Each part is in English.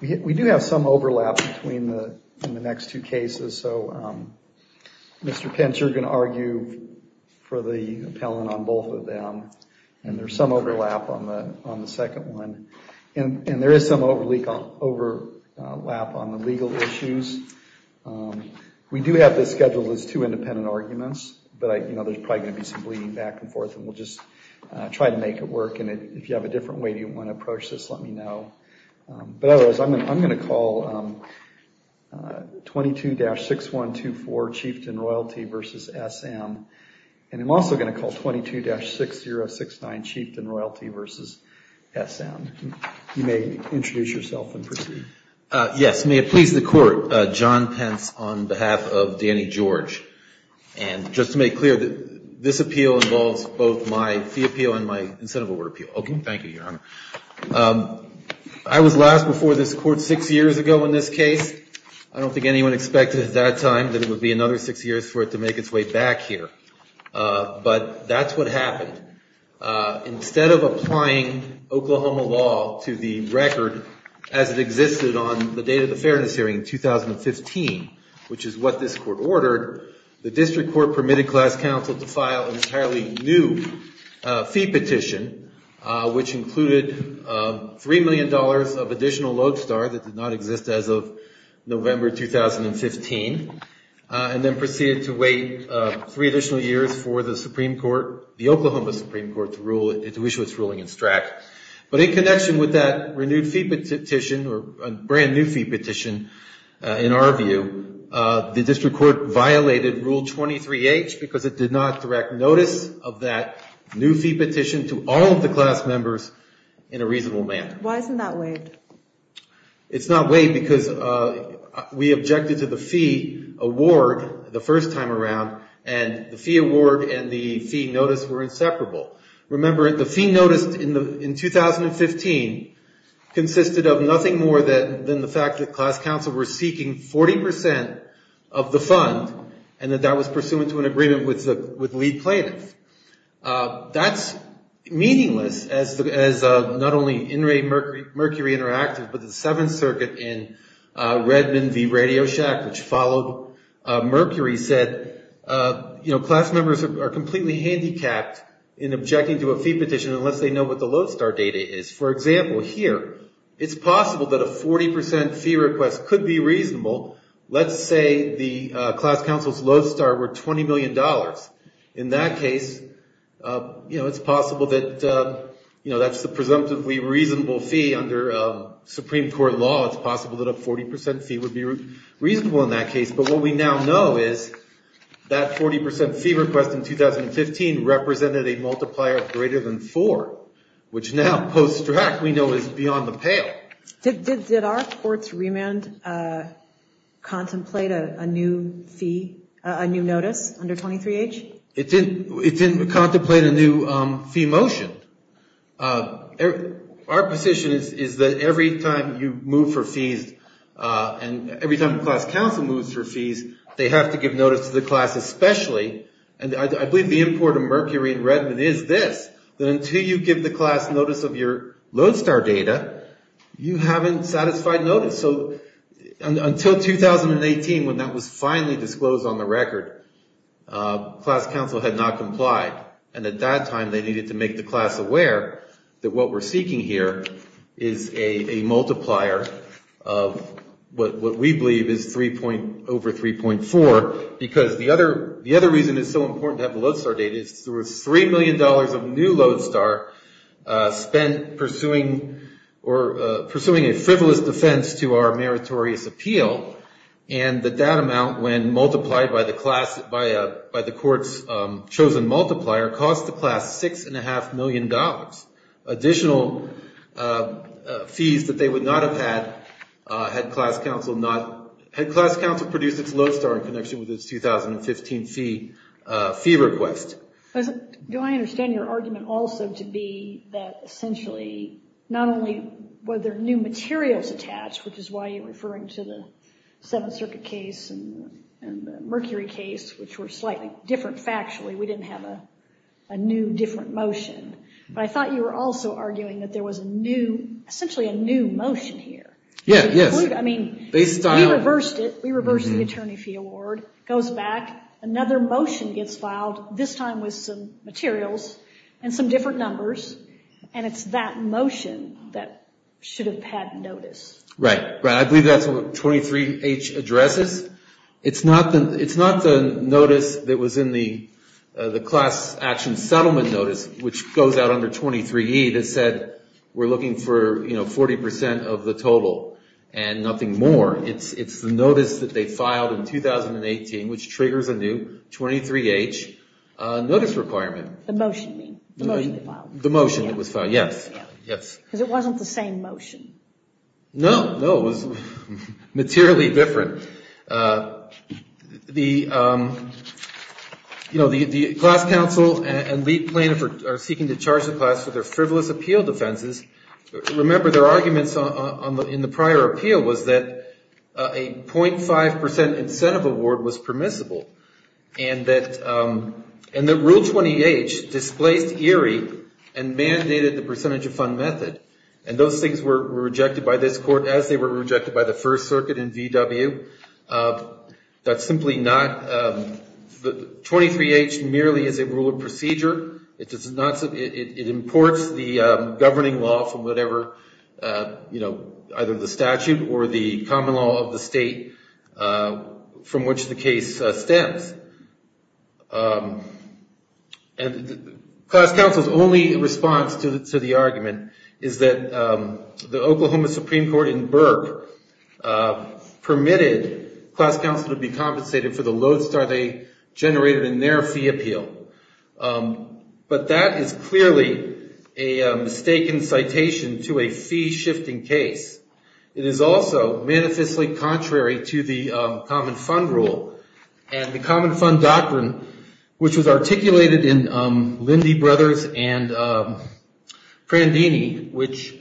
We do have some overlap between the next two cases. So Mr. Pence, you're going to argue for the appellant on both of them. And there's some overlap on the second one. And there is some overlap on the legal issues. We do have this scheduled as two independent arguments. But there's probably going to be some bleeding back and forth. And we'll just try to make it work. And if you have a different way you want to approach this, let me know. But otherwise, I'm going to call 22-6124 Chieftain Royalty v. SM. And I'm also going to call 22-6069 Chieftain Royalty v. SM. You may introduce yourself and proceed. Yes. May it please the Court, John Pence on behalf of Danny George. And just to make clear, this appeal involves both my fee appeal and my incentive award appeal. Okay. Thank you, Your Honor. I was last before this court six years ago in this case. I don't think anyone expected at that time that it would be another six years for it to make its way back here. But that's what happened. Instead of applying Oklahoma law to the record as it existed on the date of the fairness hearing in 2015, which is what this court ordered, the district court permitted class counsel to file an entirely new fee petition, which included $3 million of additional lodestar that did not exist as of November 2015, and then proceeded to wait three additional years for the Supreme Court, the Oklahoma Supreme Court, to approve the fee petition. And then for the Supreme Court to issue its ruling in STRAC. But in connection with that renewed fee petition, or a brand new fee petition, in our view, the district court violated Rule 23H because it did not direct notice of that new fee petition to all of the class members in a reasonable manner. Why isn't that waived? But the Seventh Circuit in Redmond v. Radio Shack, which followed Mercury, said class members are completely handicapped in objecting to a fee petition unless they know what the lodestar data is. For example, here, it's possible that a 40% fee request could be reasonable. Let's say the class counsel's lodestar were $20 million. In that case, it's possible that that's the presumptively reasonable fee under Supreme Court law. It's possible that a 40% fee would be reasonable in that case. But what we now know is that 40% fee request in 2015 represented a multiplier of greater than four, which now, post-STRAC, we know is beyond the pale. Did our court's remand contemplate a new fee, a new notice under 23H? It didn't contemplate a new fee motion. Our position is that every time you move for fees, and every time the class counsel moves for fees, they have to give notice to the class, especially, and I believe the import of Mercury in Redmond is this, that until you give the class notice of your lodestar data, you haven't satisfied notice. Until 2018, when that was finally disclosed on the record, class counsel had not complied. And at that time, they needed to make the class aware that what we're seeking here is a multiplier of what we believe is over 3.4. Because the other reason it's so important to have the lodestar data is there was $3 million of new lodestar spent pursuing a frivolous defense to our meritorious appeal, and that that amount, when multiplied by the court's chosen multiplier, cost the class $6.5 million. Additional fees that they would not have had, had class counsel produced its lodestar in connection with its 2015 fee request. Do I understand your argument also to be that, essentially, not only were there new materials attached, which is why you're referring to the Seventh Circuit case and the Mercury case, which were slightly different factually, we didn't have a new, different motion, but I thought you were also arguing that there was a new, essentially a new motion here. Yeah, yes. I mean, we reversed it, we reversed the attorney fee award, goes back, another motion gets filed, this time with some materials and some different numbers, and it's that motion that should have had notice. Right, right. I believe that's what 23H addresses. It's not the notice that was in the class action settlement notice, which goes out under 23E that said, we're looking for 40% of the total and nothing more. It's the notice that they filed in 2018, which triggers a new 23H notice requirement. The motion, you mean, the motion that was filed. The motion that was filed, yes. Because it wasn't the same motion. No, no, it was materially different. The class counsel and lead plaintiff are seeking to charge the class for their frivolous appeal defenses. Remember, their arguments in the prior appeal was that a 0.5% incentive award was permissible, and that Rule 28 displaced ERIE and mandated the percentage of fund method. And those things were rejected by this court as they were rejected by the First Circuit in VW. That's simply not, 23H merely is a rule of procedure. It imports the governing law from whatever, you know, either the statute or the common law of the state from which the case stems. And class counsel's only response to the argument is that the Oklahoma Supreme Court in Burke permitted class counsel to be compensated for the lodestar they generated in their fee appeal. But that is clearly a mistaken citation to a fee-shifting case. It is also manifestly contrary to the Common Fund Rule and the Common Fund Doctrine, which was articulated in Lindy Brothers and Prandini, which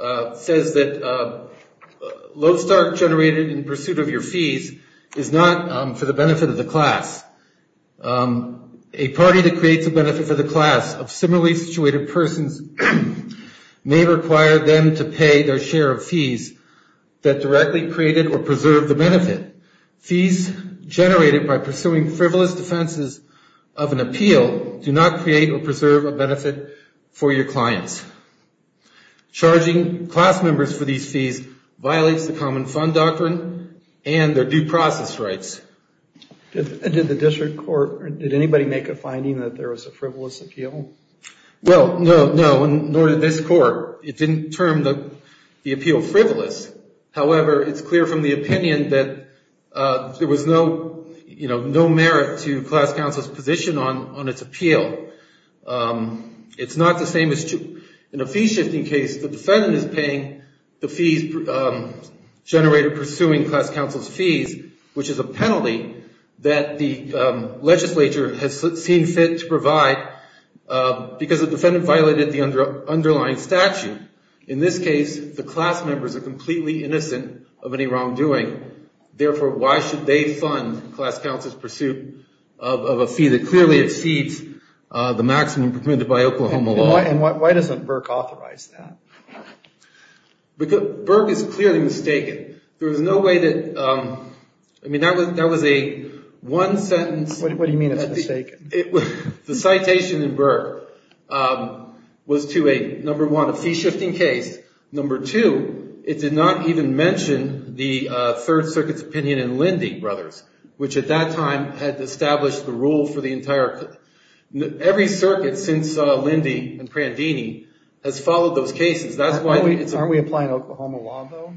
says that lodestar generated in pursuit of your fees is not for the benefit of the class. A party that creates a benefit for the class of similarly situated persons may require them to pay their share of fees that directly created or preserved the benefit. Fees generated by pursuing frivolous defenses of an appeal do not create or preserve a benefit for your clients. Charging class members for these fees violates the Common Fund Doctrine and their due process rights. Did the district court or did anybody make a finding that there was a frivolous appeal? Well, no, no, nor did this court. It didn't term the appeal frivolous. However, it's clear from the opinion that there was no, you know, no merit to class counsel's position on its appeal. It's not the same as, in a fee-shifting case, the defendant is paying the fees generated pursuing class counsel's fees, which is a penalty that the legislature has seen fit to provide because the defendant violated the underlying statute. In this case, the class members are completely innocent of any wrongdoing. Therefore, why should they fund class counsel's pursuit of a fee that clearly exceeds the maximum permitted by Oklahoma law? And why doesn't Burke authorize that? Burke is clearly mistaken. There was no way that, I mean, that was a one-sentence… What do you mean it's mistaken? The citation in Burke was to a, number one, a fee-shifting case. Number two, it did not even mention the Third Circuit's opinion in Lindy Brothers, which at that time had established the rule for the entire… Every circuit since Lindy and Prandini has followed those cases. That's why… Aren't we applying Oklahoma law, though?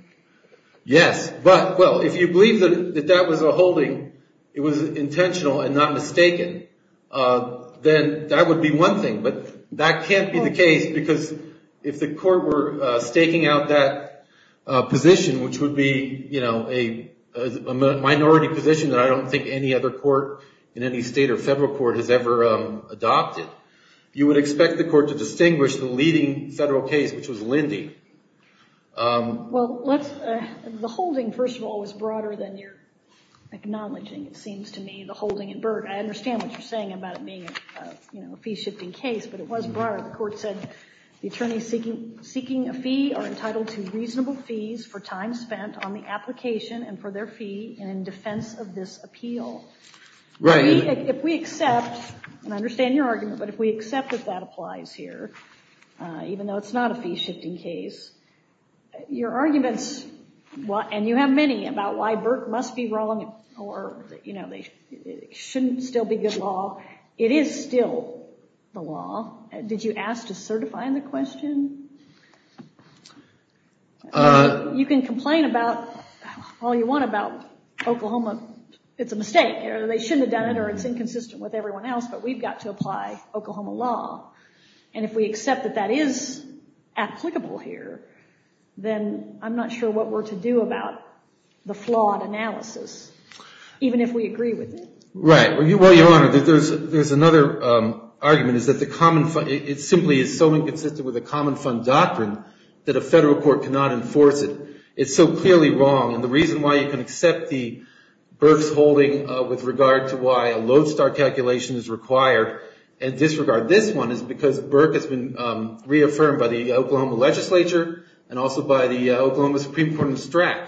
Yes. But, well, if you believe that that was a holding, it was intentional and not mistaken, then that would be one thing. But that can't be the case because if the court were staking out that position, which would be a minority position that I don't think any other court in any state or federal court has ever adopted, you would expect the court to distinguish the leading federal case, which was Lindy. Well, let's… The holding, first of all, was broader than you're acknowledging, it seems to me, the holding in Burke. I understand what you're saying about it being a fee-shifting case, but it was broader. The court said the attorneys seeking a fee are entitled to reasonable fees for time spent on the application and for their fee in defense of this appeal. Right. If we accept, and I understand your argument, but if we accept that that applies here, even though it's not a fee-shifting case, your arguments, and you have many, about why Burke must be wrong or it shouldn't still be good law, it is still the law. Did you ask to certify in the question? You can complain about all you want about Oklahoma. It's a mistake. They shouldn't have done it or it's inconsistent with everyone else, but we've got to apply Oklahoma law. And if we accept that that is applicable here, then I'm not sure what we're to do about the flawed analysis, even if we agree with it. Right. Well, Your Honor, there's another argument. It simply is so inconsistent with the common fund doctrine that a federal court cannot enforce it. It's so clearly wrong, and the reason why you can accept the Burke's holding with regard to why a lodestar calculation is required and disregard this one is because Burke has been reaffirmed by the Oklahoma legislature and also by the Oklahoma Supreme Court in STRAC.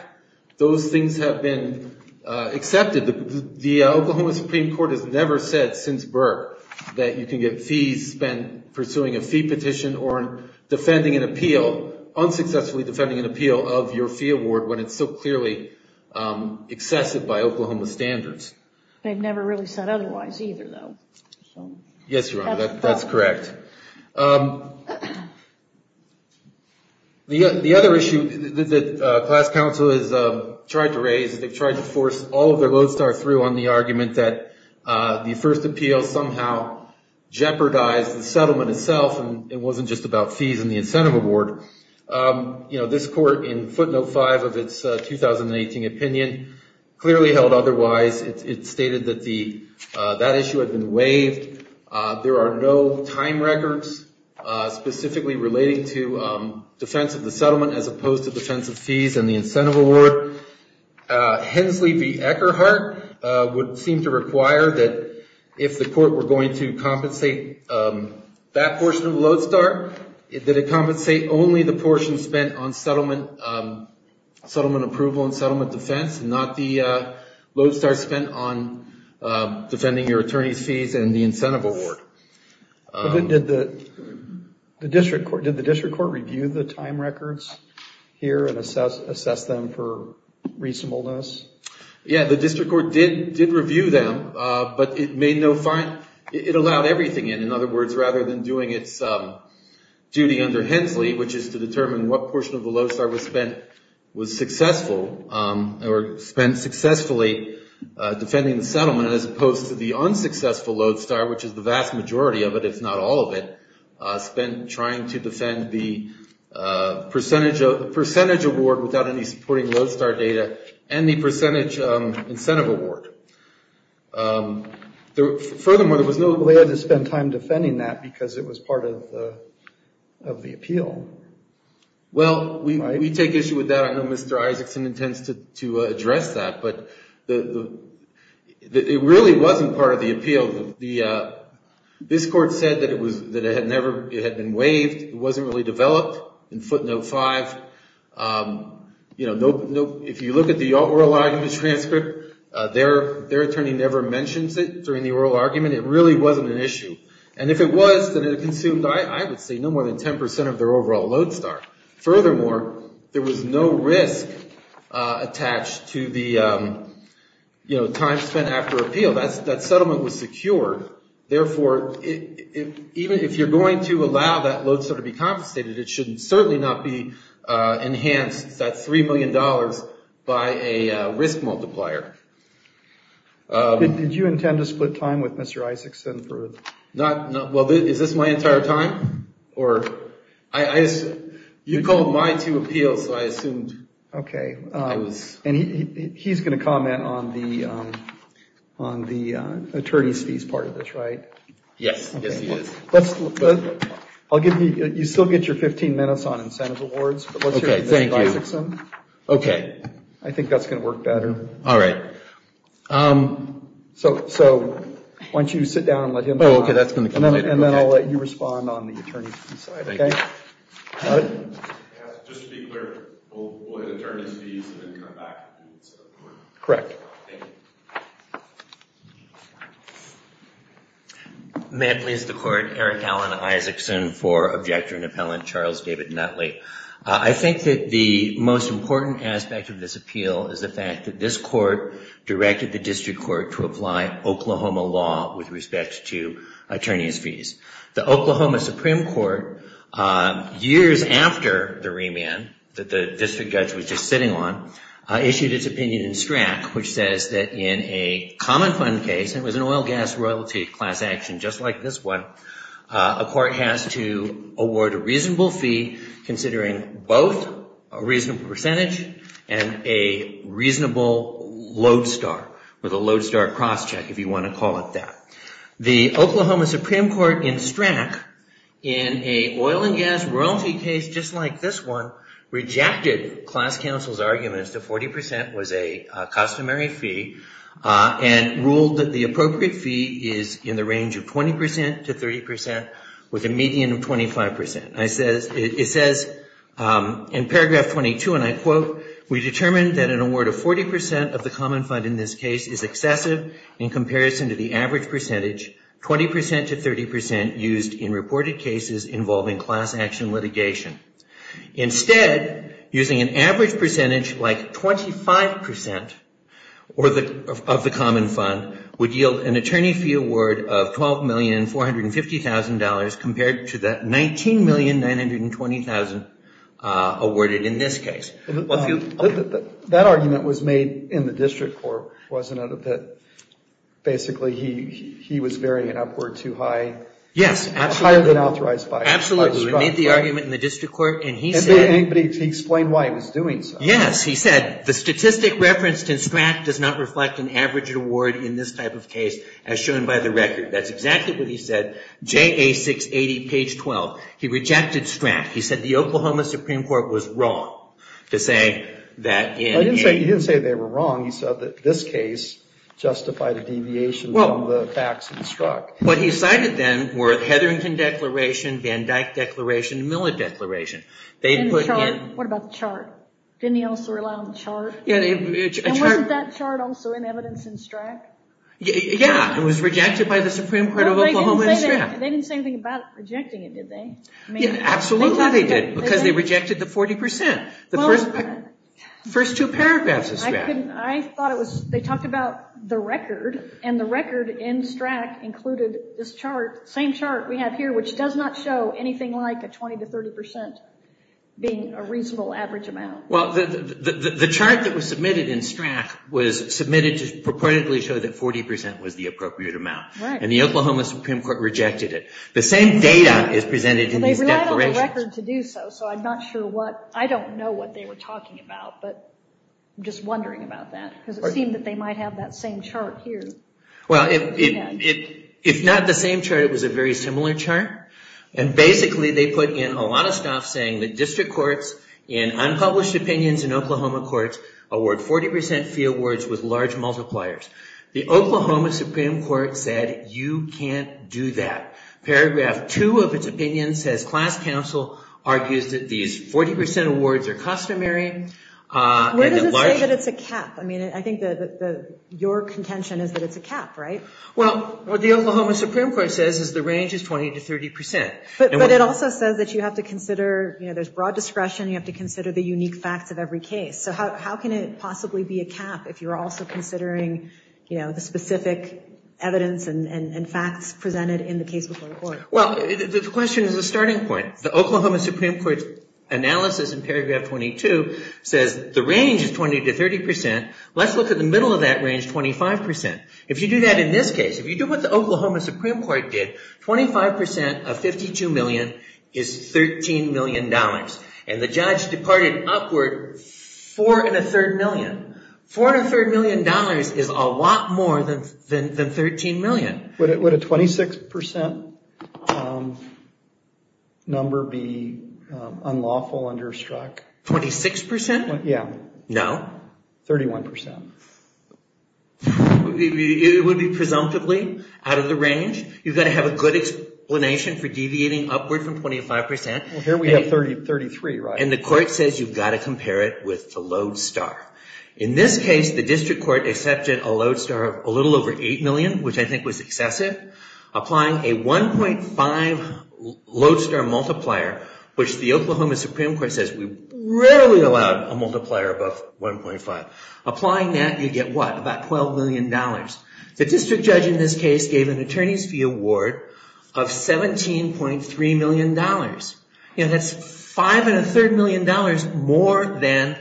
Those things have been accepted. The Oklahoma Supreme Court has never said since Burke that you can get fees spent pursuing a fee petition or defending an appeal, unsuccessfully defending an appeal of your fee award when it's so clearly excessive by Oklahoma standards. They've never really said otherwise either, though. Yes, Your Honor, that's correct. The other issue that class counsel has tried to raise, they've tried to force all of their lodestar through on the argument that the first appeal somehow jeopardized the settlement itself and it wasn't just about fees and the incentive award. This court in footnote five of its 2018 opinion clearly held otherwise. It stated that that issue had been waived. There are no time records specifically relating to defense of the settlement as opposed to defense of fees and the incentive award. Hensley v. Eckerhart would seem to require that if the court were going to compensate that portion of the lodestar, that it compensate only the portion spent on settlement approval and settlement defense and not the lodestar spent on defending your attorney's fees and the incentive award. Did the district court review the time records here and assess them for reasonableness? Yeah, the district court did review them, but it allowed everything in. In other words, rather than doing its duty under Hensley, which is to determine what portion of the lodestar was spent successfully defending the settlement as opposed to the unsuccessful lodestar, which is the vast majority of it, if not all of it, spent trying to defend the percentage award without any supporting lodestar data and the incentive award. Furthermore, there was no way to spend time defending that because it was part of the appeal. Well, we take issue with that. I know Mr. Isaacson intends to address that, but it really wasn't part of the appeal. This court said that it had been waived. It wasn't really developed in footnote five. If you look at the oral argument transcript, their attorney never mentions it during the oral argument. It really wasn't an issue. And if it was, then it consumed, I would say, no more than 10% of their overall lodestar. Furthermore, there was no risk attached to the time spent after appeal. That settlement was secured. Therefore, even if you're going to allow that lodestar to be compensated, it should certainly not be enhanced, that $3 million, by a risk multiplier. Did you intend to split time with Mr. Isaacson? Well, is this my entire time? You called my two appeals, so I assumed. Okay. And he's going to comment on the attorney's fees part of this, right? Yes, yes he is. You still get your 15 minutes on incentive awards, but let's hear from Mr. Isaacson. Okay, thank you. I think that's going to work better. All right. So, why don't you sit down and let him comment. Oh, okay, that's going to come later. And then I'll let you respond on the attorney's fees side, okay? Thank you. All right. Just to be clear, we'll look at attorney's fees and then come back to the incentive award. Correct. Thank you. May it please the Court, Eric Allan Isaacson for Objector and Appellant Charles David Nutley. I think that the most important aspect of this appeal is the fact that this court directed the district court to apply Oklahoma law with respect to attorney's fees. The Oklahoma Supreme Court, years after the remand that the district judge was just sitting on, issued its opinion in STRAC, which says that in a common fund case, and it was an oil gas royalty class action just like this one, a court has to award a reasonable fee considering both a reasonable percentage and a reasonable load star, or the load star cross check if you want to call it that. The Oklahoma Supreme Court in STRAC, in a oil and gas royalty case just like this one, rejected class counsel's arguments that 40% was a customary fee and ruled that the appropriate fee is in the range of 20% to 30% with a median of 25%. It says in paragraph 22, and I quote, we determined that an award of 40% of the common fund in this case is excessive in comparison to the average percentage, 20% to 30% used in reported cases involving class action litigation. Instead, using an average percentage like 25% of the common fund would yield an attorney fee award of $12,450,000 compared to the $19,920,000 awarded in this case. That argument was made in the district court, wasn't it, that basically he was varying it upward too high? Yes, absolutely. Higher than authorized by STRAC. He made the argument in the district court and he said... But he explained why he was doing so. Yes, he said the statistic referenced in STRAC does not reflect an average award in this type of case as shown by the record. That's exactly what he said, JA 680, page 12. He rejected STRAC. He said the Oklahoma Supreme Court was wrong to say that in... He didn't say they were wrong. He said that this case justified a deviation from the facts in STRAC. What he cited then were the Hetherington Declaration, Van Dyck Declaration, Miller Declaration. What about the chart? Didn't he also rely on the chart? Wasn't that chart also in evidence in STRAC? Yes, it was rejected by the Supreme Court of Oklahoma in STRAC. They didn't say anything about rejecting it, did they? Absolutely they did because they rejected the 40%. The first two paragraphs of STRAC. I thought it was... They talked about the record and the record in STRAC included this chart, same chart we have here, which does not show anything like a 20% to 30% being a reasonable average amount. The chart that was submitted in STRAC was submitted to purportedly show that 40% was the appropriate amount. The Oklahoma Supreme Court rejected it. The same data is presented in these declarations. They relied on the record to do so, so I'm not sure what... I'm just wondering about that because it seemed that they might have that same chart here. Well, if not the same chart, it was a very similar chart, and basically they put in a lot of stuff saying that district courts in unpublished opinions in Oklahoma courts award 40% fee awards with large multipliers. The Oklahoma Supreme Court said you can't do that. Paragraph two of its opinion says class counsel argues that these 40% awards are customary. What does it say that it's a cap? I think your contention is that it's a cap, right? Well, what the Oklahoma Supreme Court says is the range is 20% to 30%. But it also says that you have to consider... There's broad discretion. You have to consider the unique facts of every case. So how can it possibly be a cap if you're also considering the specific evidence and facts presented in the case before the court? Well, the question is a starting point. The Oklahoma Supreme Court's analysis in paragraph 22 says the range is 20% to 30%. Let's look at the middle of that range, 25%. If you do that in this case, if you do what the Oklahoma Supreme Court did, 25% of $52 million is $13 million. And the judge departed upward $4.3 million. $4.3 million is a lot more than $13 million. Would a 26% number be unlawful under a strike? 26%? Yeah. No. 31%. It would be presumptively out of the range. You've got to have a good explanation for deviating upward from 25%. Well, here we have 33, right? And the court says you've got to compare it with the lodestar. In this case, the district court accepted a lodestar of a little over $8 million, which I think was excessive, applying a 1.5 lodestar multiplier, which the Oklahoma Supreme Court says we rarely allow a multiplier above 1.5. Applying that, you get what? About $12 million. The district judge in this case gave an attorney's fee award of $17.3 million. That's $5.3 million more than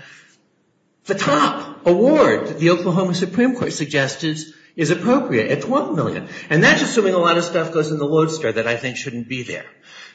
the top award that the Oklahoma Supreme Court suggested is appropriate at $12 million. And that's assuming a lot of stuff goes in the lodestar that I think shouldn't be there.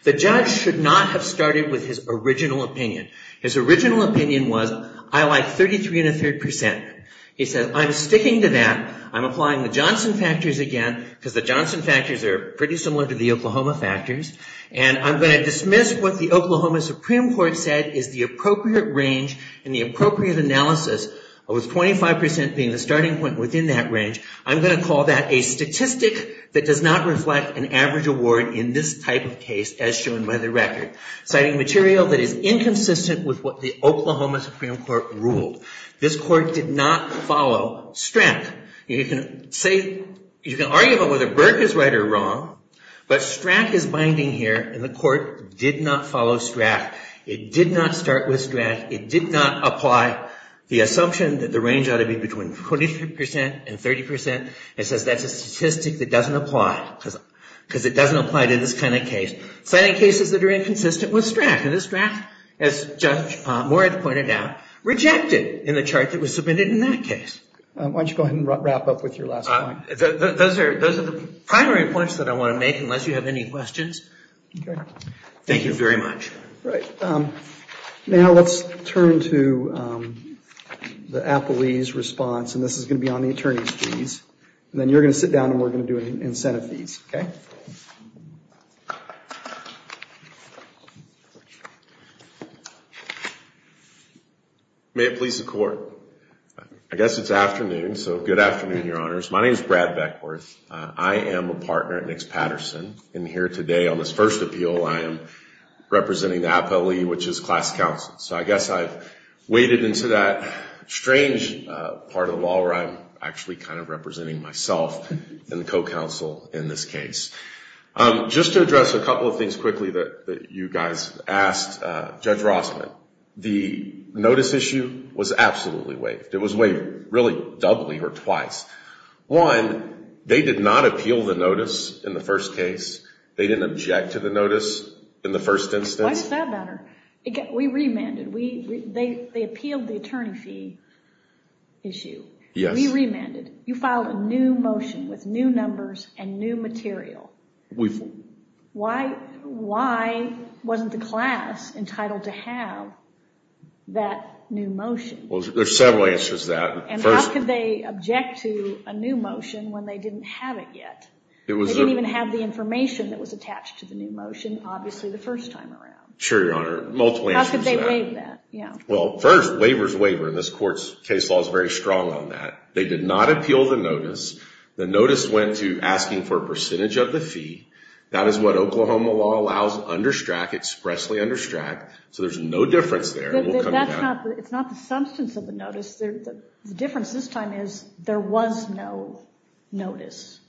The judge should not have started with his original opinion. His original opinion was, I like 33.3%. He said, I'm sticking to that. I'm applying the Johnson factors again because the Johnson factors are pretty similar to the Oklahoma factors. And I'm going to dismiss what the Oklahoma Supreme Court said is the appropriate range and the appropriate analysis with 25% being the starting point within that range. I'm going to call that a statistic that does not reflect an average award in this type of case as shown by the record, citing material that is inconsistent with what the Oklahoma Supreme Court ruled. This court did not follow STRAC. You can argue about whether Burke is right or wrong. But STRAC is binding here. And the court did not follow STRAC. It did not start with STRAC. It did not apply the assumption that the range ought to be between 25% and 30%. It says that's a statistic that doesn't apply because it doesn't apply to this kind of case. Citing cases that are inconsistent with STRAC. And this draft, as Judge Moore had pointed out, rejected in the chart that was submitted in that case. Why don't you go ahead and wrap up with your last comment? Those are the primary points that I want to make, unless you have any questions. Thank you very much. All right. Now let's turn to the Applebee's response. And this is going to be on the attorney's fees. And then you're going to sit down, and we're going to do incentive fees. Okay? May it please the Court. I guess it's afternoon, so good afternoon, Your Honors. My name is Brad Beckworth. I am a partner at Nix Patterson. And here today on this first appeal, I am representing the Applebee, which is class counsel. So I guess I've waded into that strange part of the law where I'm actually kind of representing myself in the co-counsel in this case. Just to address a couple of things quickly that you guys asked, Judge Rossman, the notice issue was absolutely waived. It was waived really doubly or twice. One, they did not appeal the notice in the first case. They didn't object to the notice in the first instance. Why is that a matter? We remanded. They appealed the attorney fee issue. Yes. We remanded. You filed a new motion with new numbers and new material. Why wasn't the class entitled to have that new motion? Well, there are several answers to that. And how could they object to a new motion when they didn't have it yet? They didn't even have the information that was attached to the new motion, obviously, the first time around. Sure, Your Honor. Multiple answers to that. How could they waive that? Well, first, waivers waiver. And this court's case law is very strong on that. They did not appeal the notice. The notice went to asking for a percentage of the fee. That is what Oklahoma law allows under STRAC, expressly under STRAC. So there's no difference there. It's not the substance of the notice. The difference this time is there was no notice.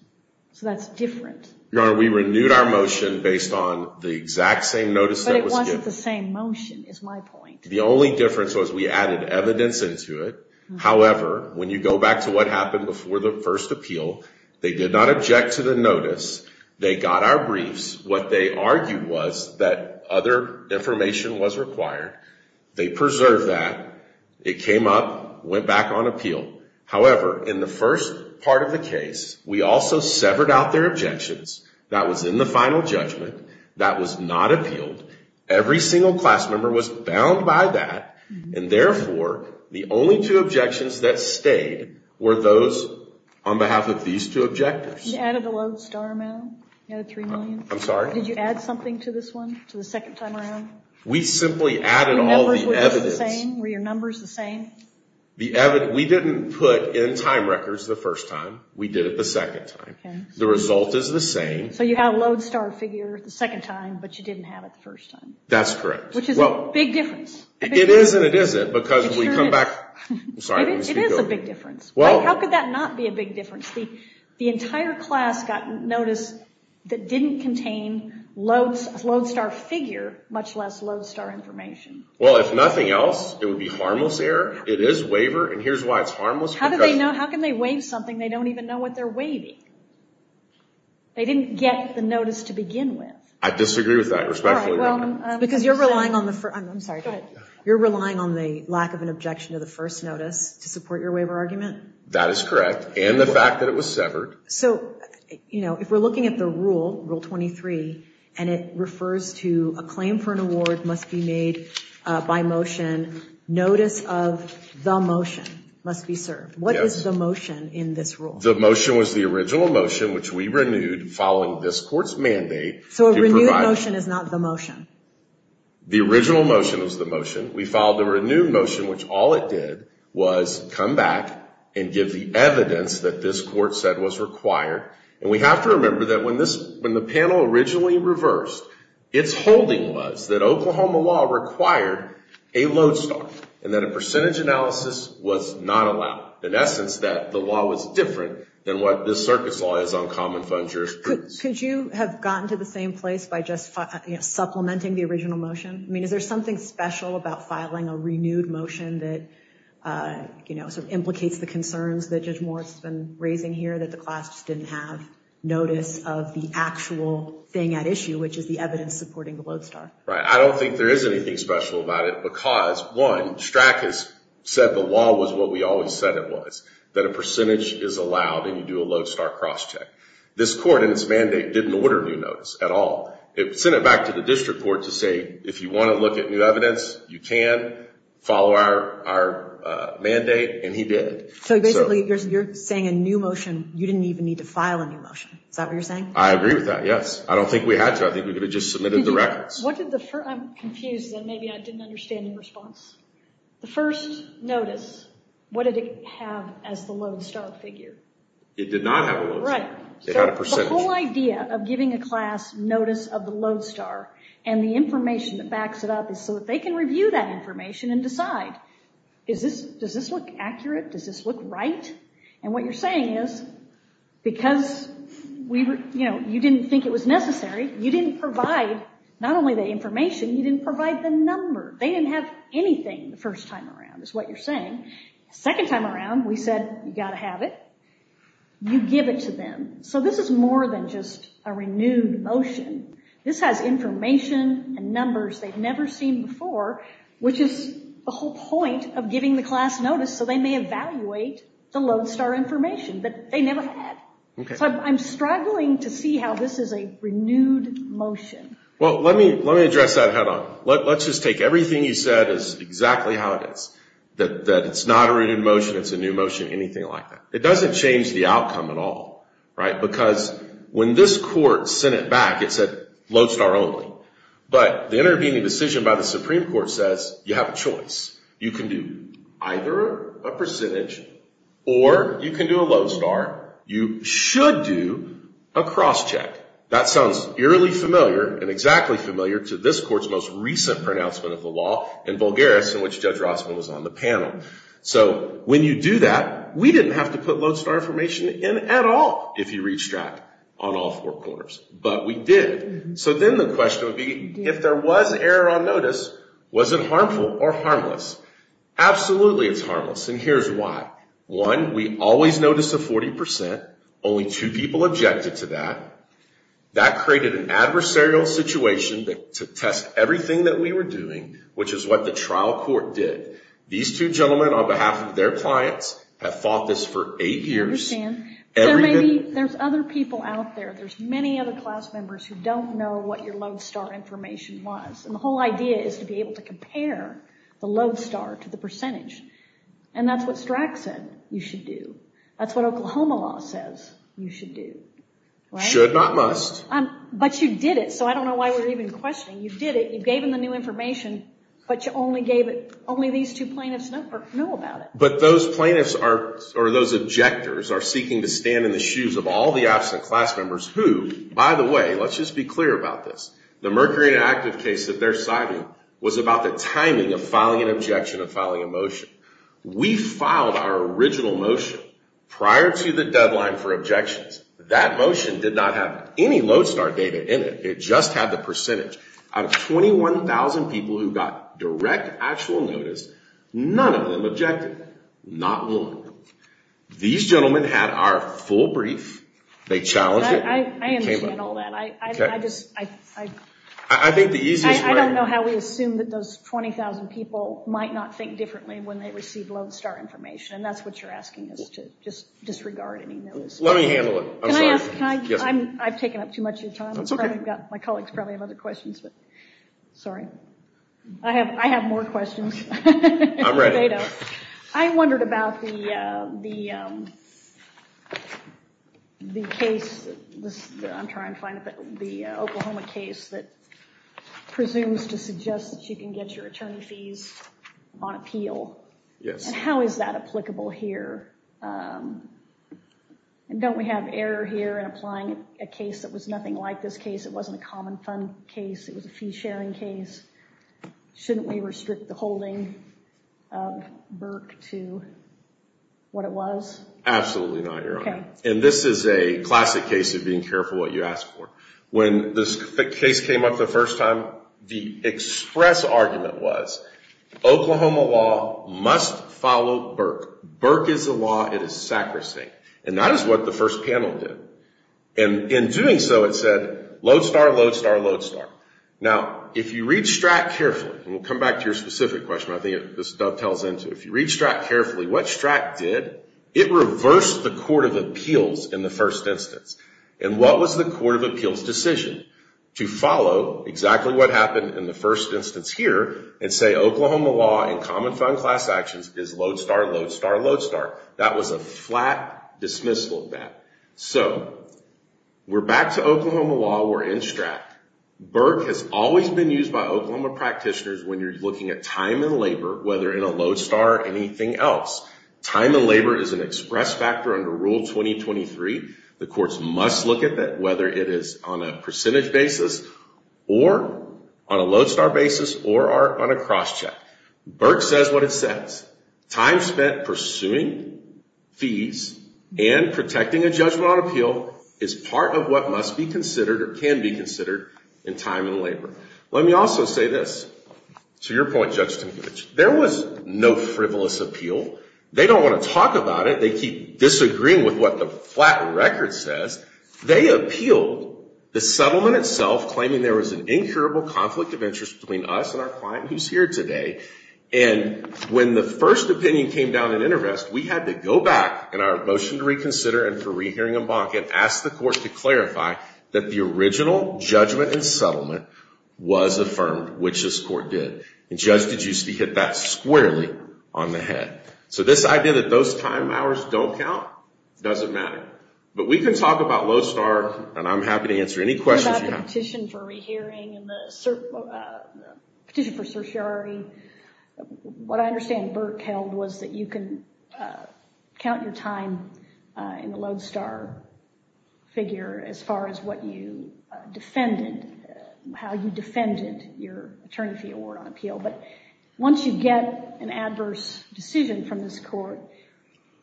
So that's different. Your Honor, we renewed our motion based on the exact same notice that was given. But it wasn't the same motion, is my point. The only difference was we added evidence into it. However, when you go back to what happened before the first appeal, they did not object to the notice. They got our briefs. What they argued was that other information was required. They preserved that. It came up, went back on appeal. However, in the first part of the case, we also severed out their objections. That was in the final judgment. That was not appealed. Every single class member was bound by that. And, therefore, the only two objections that stayed were those on behalf of these two objectors. You added a low star amount. You added $3 million. I'm sorry? Did you add something to this one, to the second time around? We simply added all the evidence. Were your numbers the same? We didn't put in time records the first time. We did it the second time. The result is the same. So you have a low star figure the second time, but you didn't have it the first time. That's correct. Which is a big difference. It is and it isn't because we come back. It is a big difference. How could that not be a big difference? The entire class got notice that didn't contain a low star figure, much less low star information. Well, if nothing else, it would be harmless error. It is waiver, and here's why it's harmless. How can they waive something they don't even know what they're waiving? They didn't get the notice to begin with. I disagree with that, respectfully. Because you're relying on the lack of an objection to the first notice to support your waiver argument? That is correct, and the fact that it was severed. If we're looking at the rule, Rule 23, and it refers to a claim for an award must be made by motion. Notice of the motion must be served. What is the motion in this rule? The motion was the original motion, which we renewed following this court's mandate. So a renewed motion is not the motion? The original motion was the motion. We filed a renewed motion, which all it did was come back and give the evidence that this court said was required. And we have to remember that when the panel originally reversed, its holding was that Oklahoma law required a low star, and that a percentage analysis was not allowed. In essence, that the law was different than what this circuit's law is on common fund jurisprudence. Could you have gotten to the same place by just supplementing the original motion? I mean, is there something special about filing a renewed motion that, you know, sort of implicates the concerns that Judge Moritz has been raising here, that the class just didn't have notice of the actual thing at issue, which is the evidence supporting the low star? Right. I don't think there is anything special about it because, one, STRAC has said the law was what we always said it was, that a percentage is allowed and you do a low star cross-check. This court, in its mandate, didn't order new notice at all. It sent it back to the district court to say, if you want to look at new evidence, you can follow our mandate, and he did. So, basically, you're saying a new motion, you didn't even need to file a new motion. Is that what you're saying? I agree with that, yes. I don't think we had to. I think we could have just submitted the records. I'm confused, and maybe I didn't understand your response. The first notice, what did it have as the low star figure? It did not have a low star. Right. It had a percentage. The whole idea of giving a class notice of the low star and the information that backs it up is so that they can review that information and decide, does this look accurate? Does this look right? And what you're saying is, because you didn't think it was necessary, you didn't provide not only the information, you didn't provide the number. They didn't have anything the first time around, is what you're saying. The second time around, we said, you've got to have it. You give it to them. So this is more than just a renewed motion. This has information and numbers they've never seen before, which is the whole point of giving the class notice, so they may evaluate the low star information that they never had. So I'm struggling to see how this is a renewed motion. Well, let me address that head on. Let's just take everything you said is exactly how it is, that it's not a renewed motion, it's a new motion, anything like that. It doesn't change the outcome at all, right, because when this court sent it back, it said low star only. But the intervening decision by the Supreme Court says you have a choice. You can do either a percentage or you can do a low star. You should do a cross check. That sounds eerily familiar and exactly familiar to this court's most recent pronouncement of the law in Bulgarus, in which Judge Rossman was on the panel. So when you do that, we didn't have to put low star information in at all if you reach that on all four corners, but we did. So then the question would be if there was error on notice, was it harmful or harmless? Absolutely it's harmless, and here's why. One, we always notice a 40%. Only two people objected to that. That created an adversarial situation to test everything that we were doing, which is what the trial court did. These two gentlemen, on behalf of their clients, have fought this for eight years. There's other people out there. There's many other class members who don't know what your low star information was, and the whole idea is to be able to compare the low star to the percentage, and that's what Strack said you should do. That's what Oklahoma law says you should do. Should, not must. But you did it, so I don't know why we're even questioning. You did it. You gave them the new information, but only these two plaintiffs know about it. But those plaintiffs or those objectors are seeking to stand in the shoes of all the absent class members who, by the way, let's just be clear about this. The Mercury Inactive case that they're citing was about the timing of filing an objection or filing a motion. We filed our original motion prior to the deadline for objections. That motion did not have any low star data in it. It just had the percentage. Out of 21,000 people who got direct actual notice, none of them objected, not one. These gentlemen had our full brief. They challenged it. I understand all that. Okay. I think the easiest way. I don't know how we assume that those 20,000 people might not think differently when they receive low star information, and that's what you're asking us to, just disregard any notice. Let me handle it. I'm sorry. Can I ask? I've taken up too much of your time. That's okay. My colleagues probably have other questions. Sorry. I have more questions. I'm ready. I wondered about the case, I'm trying to find it, the Oklahoma case that presumes to suggest that you can get your attorney fees on appeal. Yes. How is that applicable here? Don't we have error here in applying a case that was nothing like this case? It wasn't a common fund case. It was a fee-sharing case. Shouldn't we restrict the holding of Burke to what it was? Absolutely not, Your Honor. Okay. This is a classic case of being careful what you ask for. When this case came up the first time, the express argument was Oklahoma law must follow Burke. Burke is the law. It is sacrosanct. And that is what the first panel did. And in doing so, it said, Lodestar, Lodestar, Lodestar. Now, if you read Stratt carefully, and we'll come back to your specific question, I think this dovetails into, if you read Stratt carefully, what Stratt did, it reversed the court of appeals in the first instance. And what was the court of appeals decision? To follow exactly what happened in the first instance here and say Oklahoma law and common fund class actions is Lodestar, Lodestar, Lodestar. That was a flat dismissal of that. So we're back to Oklahoma law. We're in Stratt. Burke has always been used by Oklahoma practitioners when you're looking at time and labor, whether in a Lodestar or anything else. Time and labor is an express factor under Rule 2023. The courts must look at that, whether it is on a percentage basis or on a Lodestar basis or on a cross check. Burke says what it says. Time spent pursuing fees and protecting a judgment on appeal is part of what must be considered or can be considered in time and labor. Let me also say this. To your point, Judge Stankovich, there was no frivolous appeal. They don't want to talk about it. They keep disagreeing with what the flat record says. They appealed the settlement itself, claiming there was an incurable conflict of interest between us and our client who's here today. And when the first opinion came down in intervest, we had to go back in our motion to reconsider and for rehearing and ask the court to clarify that the original judgment and settlement was affirmed, which this court did. And Judge DeGiusti hit that squarely on the head. So this idea that those time hours don't count doesn't matter. But we can talk about Lodestar, and I'm happy to answer any questions you have. The petition for rehearing and the petition for certiorari, what I understand Burke held was that you can count your time in the Lodestar figure as far as what you defended, how you defended your attorney fee award on appeal. But once you get an adverse decision from this court,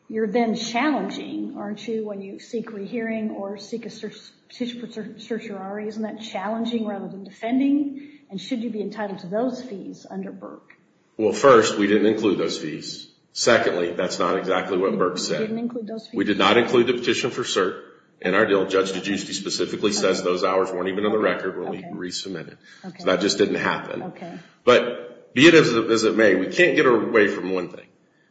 you're then challenging, aren't you, when you seek rehearing or seek a petition for certiorari? Isn't that challenging rather than defending? And should you be entitled to those fees under Burke? Well, first, we didn't include those fees. Secondly, that's not exactly what Burke said. We did not include the petition for cert in our deal. Judge DeGiusti specifically says those hours weren't even on the record when we resubmitted. So that just didn't happen. But be it as it may, we can't get away from one thing.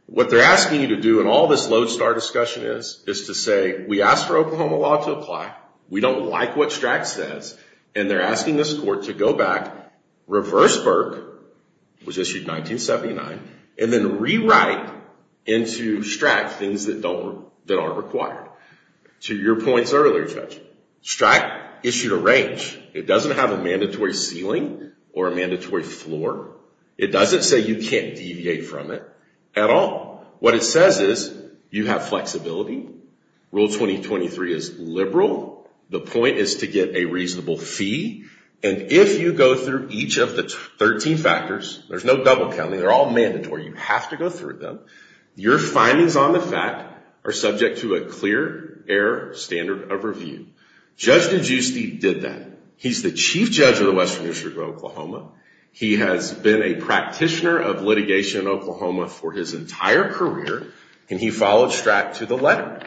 What they're asking you to do in all this Lodestar discussion is to say, we asked for Oklahoma law to apply, we don't like what Strack says, and they're asking this court to go back, reverse Burke, which issued 1979, and then rewrite into Strack things that are required. To your points earlier, Judge, Strack issued a range. It doesn't have a mandatory ceiling or a mandatory floor. It doesn't say you can't deviate from it at all. What it says is you have flexibility. Rule 2023 is liberal. The point is to get a reasonable fee. And if you go through each of the 13 factors, there's no double counting, they're all mandatory, you have to go through them, your findings on the fact are subject to a clear air standard of review. Judge DeGiusti did that. He's the chief judge of the Western District of Oklahoma. He has been a practitioner of litigation in Oklahoma for his entire career, and he followed Strack to the letter.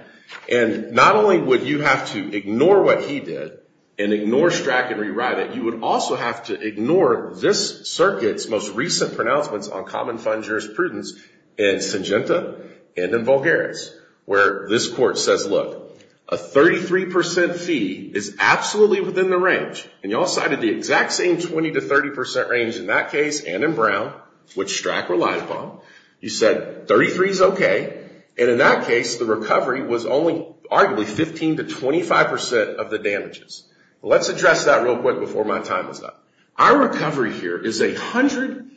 And not only would you have to ignore what he did, and ignore Strack and rewrite it, you would also have to ignore this circuit's most recent pronouncements on common fund jurisprudence in Syngenta and in Vulgaris, where this court says, look, a 33% fee is absolutely within the range, and you all cited the exact same 20% to 30% range in that case and in Brown, which Strack relied upon. You said 33 is okay, and in that case, the recovery was only arguably 15% to 25% of the damages. Let's address that real quick before my time is up. Our recovery here is 100%,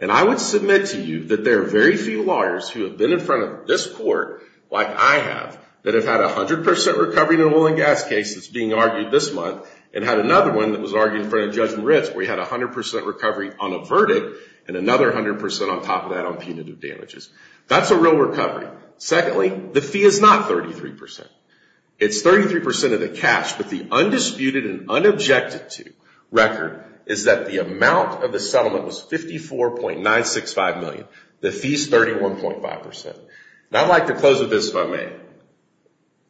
and I would submit to you that there are very few lawyers who have been in front of this court like I have that have had 100% recovery in an oil and gas case that's being argued this month and had another one that was argued in front of Judge Ritz where he had 100% recovery on a verdict and another 100% on top of that on punitive damages. That's a real recovery. Secondly, the fee is not 33%. It's 33% of the cash, but the undisputed and unobjected to record is that the amount of the settlement was $54.965 million. The fee is 31.5%. I'd like to close with this if I may.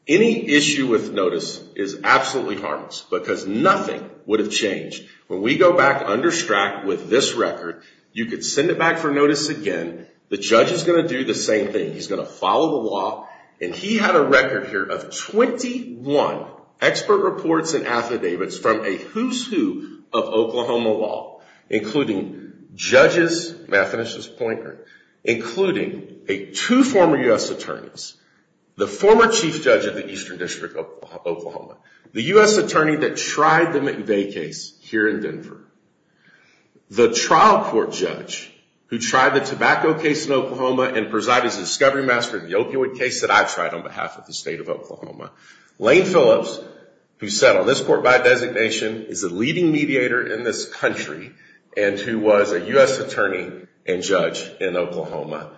Any issue with notice is absolutely harmless because nothing would have changed. When we go back under Strack with this record, you could send it back for notice again. The judge is going to do the same thing. He's going to follow the law, and he had a record here of 21 expert reports and affidavits from a who's who of Oklahoma law, including judges, may I finish this pointer, including two former U.S. attorneys, the former chief judge of the Eastern District of Oklahoma, the U.S. attorney that tried the McVeigh case here in Denver, the trial court judge who tried the tobacco case in Oklahoma and presided as a discovery master in the opioid case that I tried on behalf of the state of Oklahoma, Lane Phillips, who sat on this court by designation, is a leading mediator in this country and who was a U.S. attorney and judge in Oklahoma.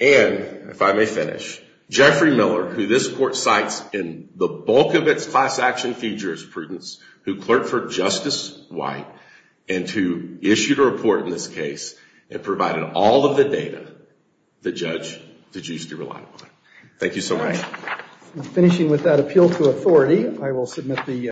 And, if I may finish, Jeffrey Miller, who this court cites in the bulk of its class action futures prudence, who clerked for Justice White and who issued a report in this case and provided all of the data the judge did choose to rely on. Thank you so much. Finishing with that appeal to authority, I will submit the...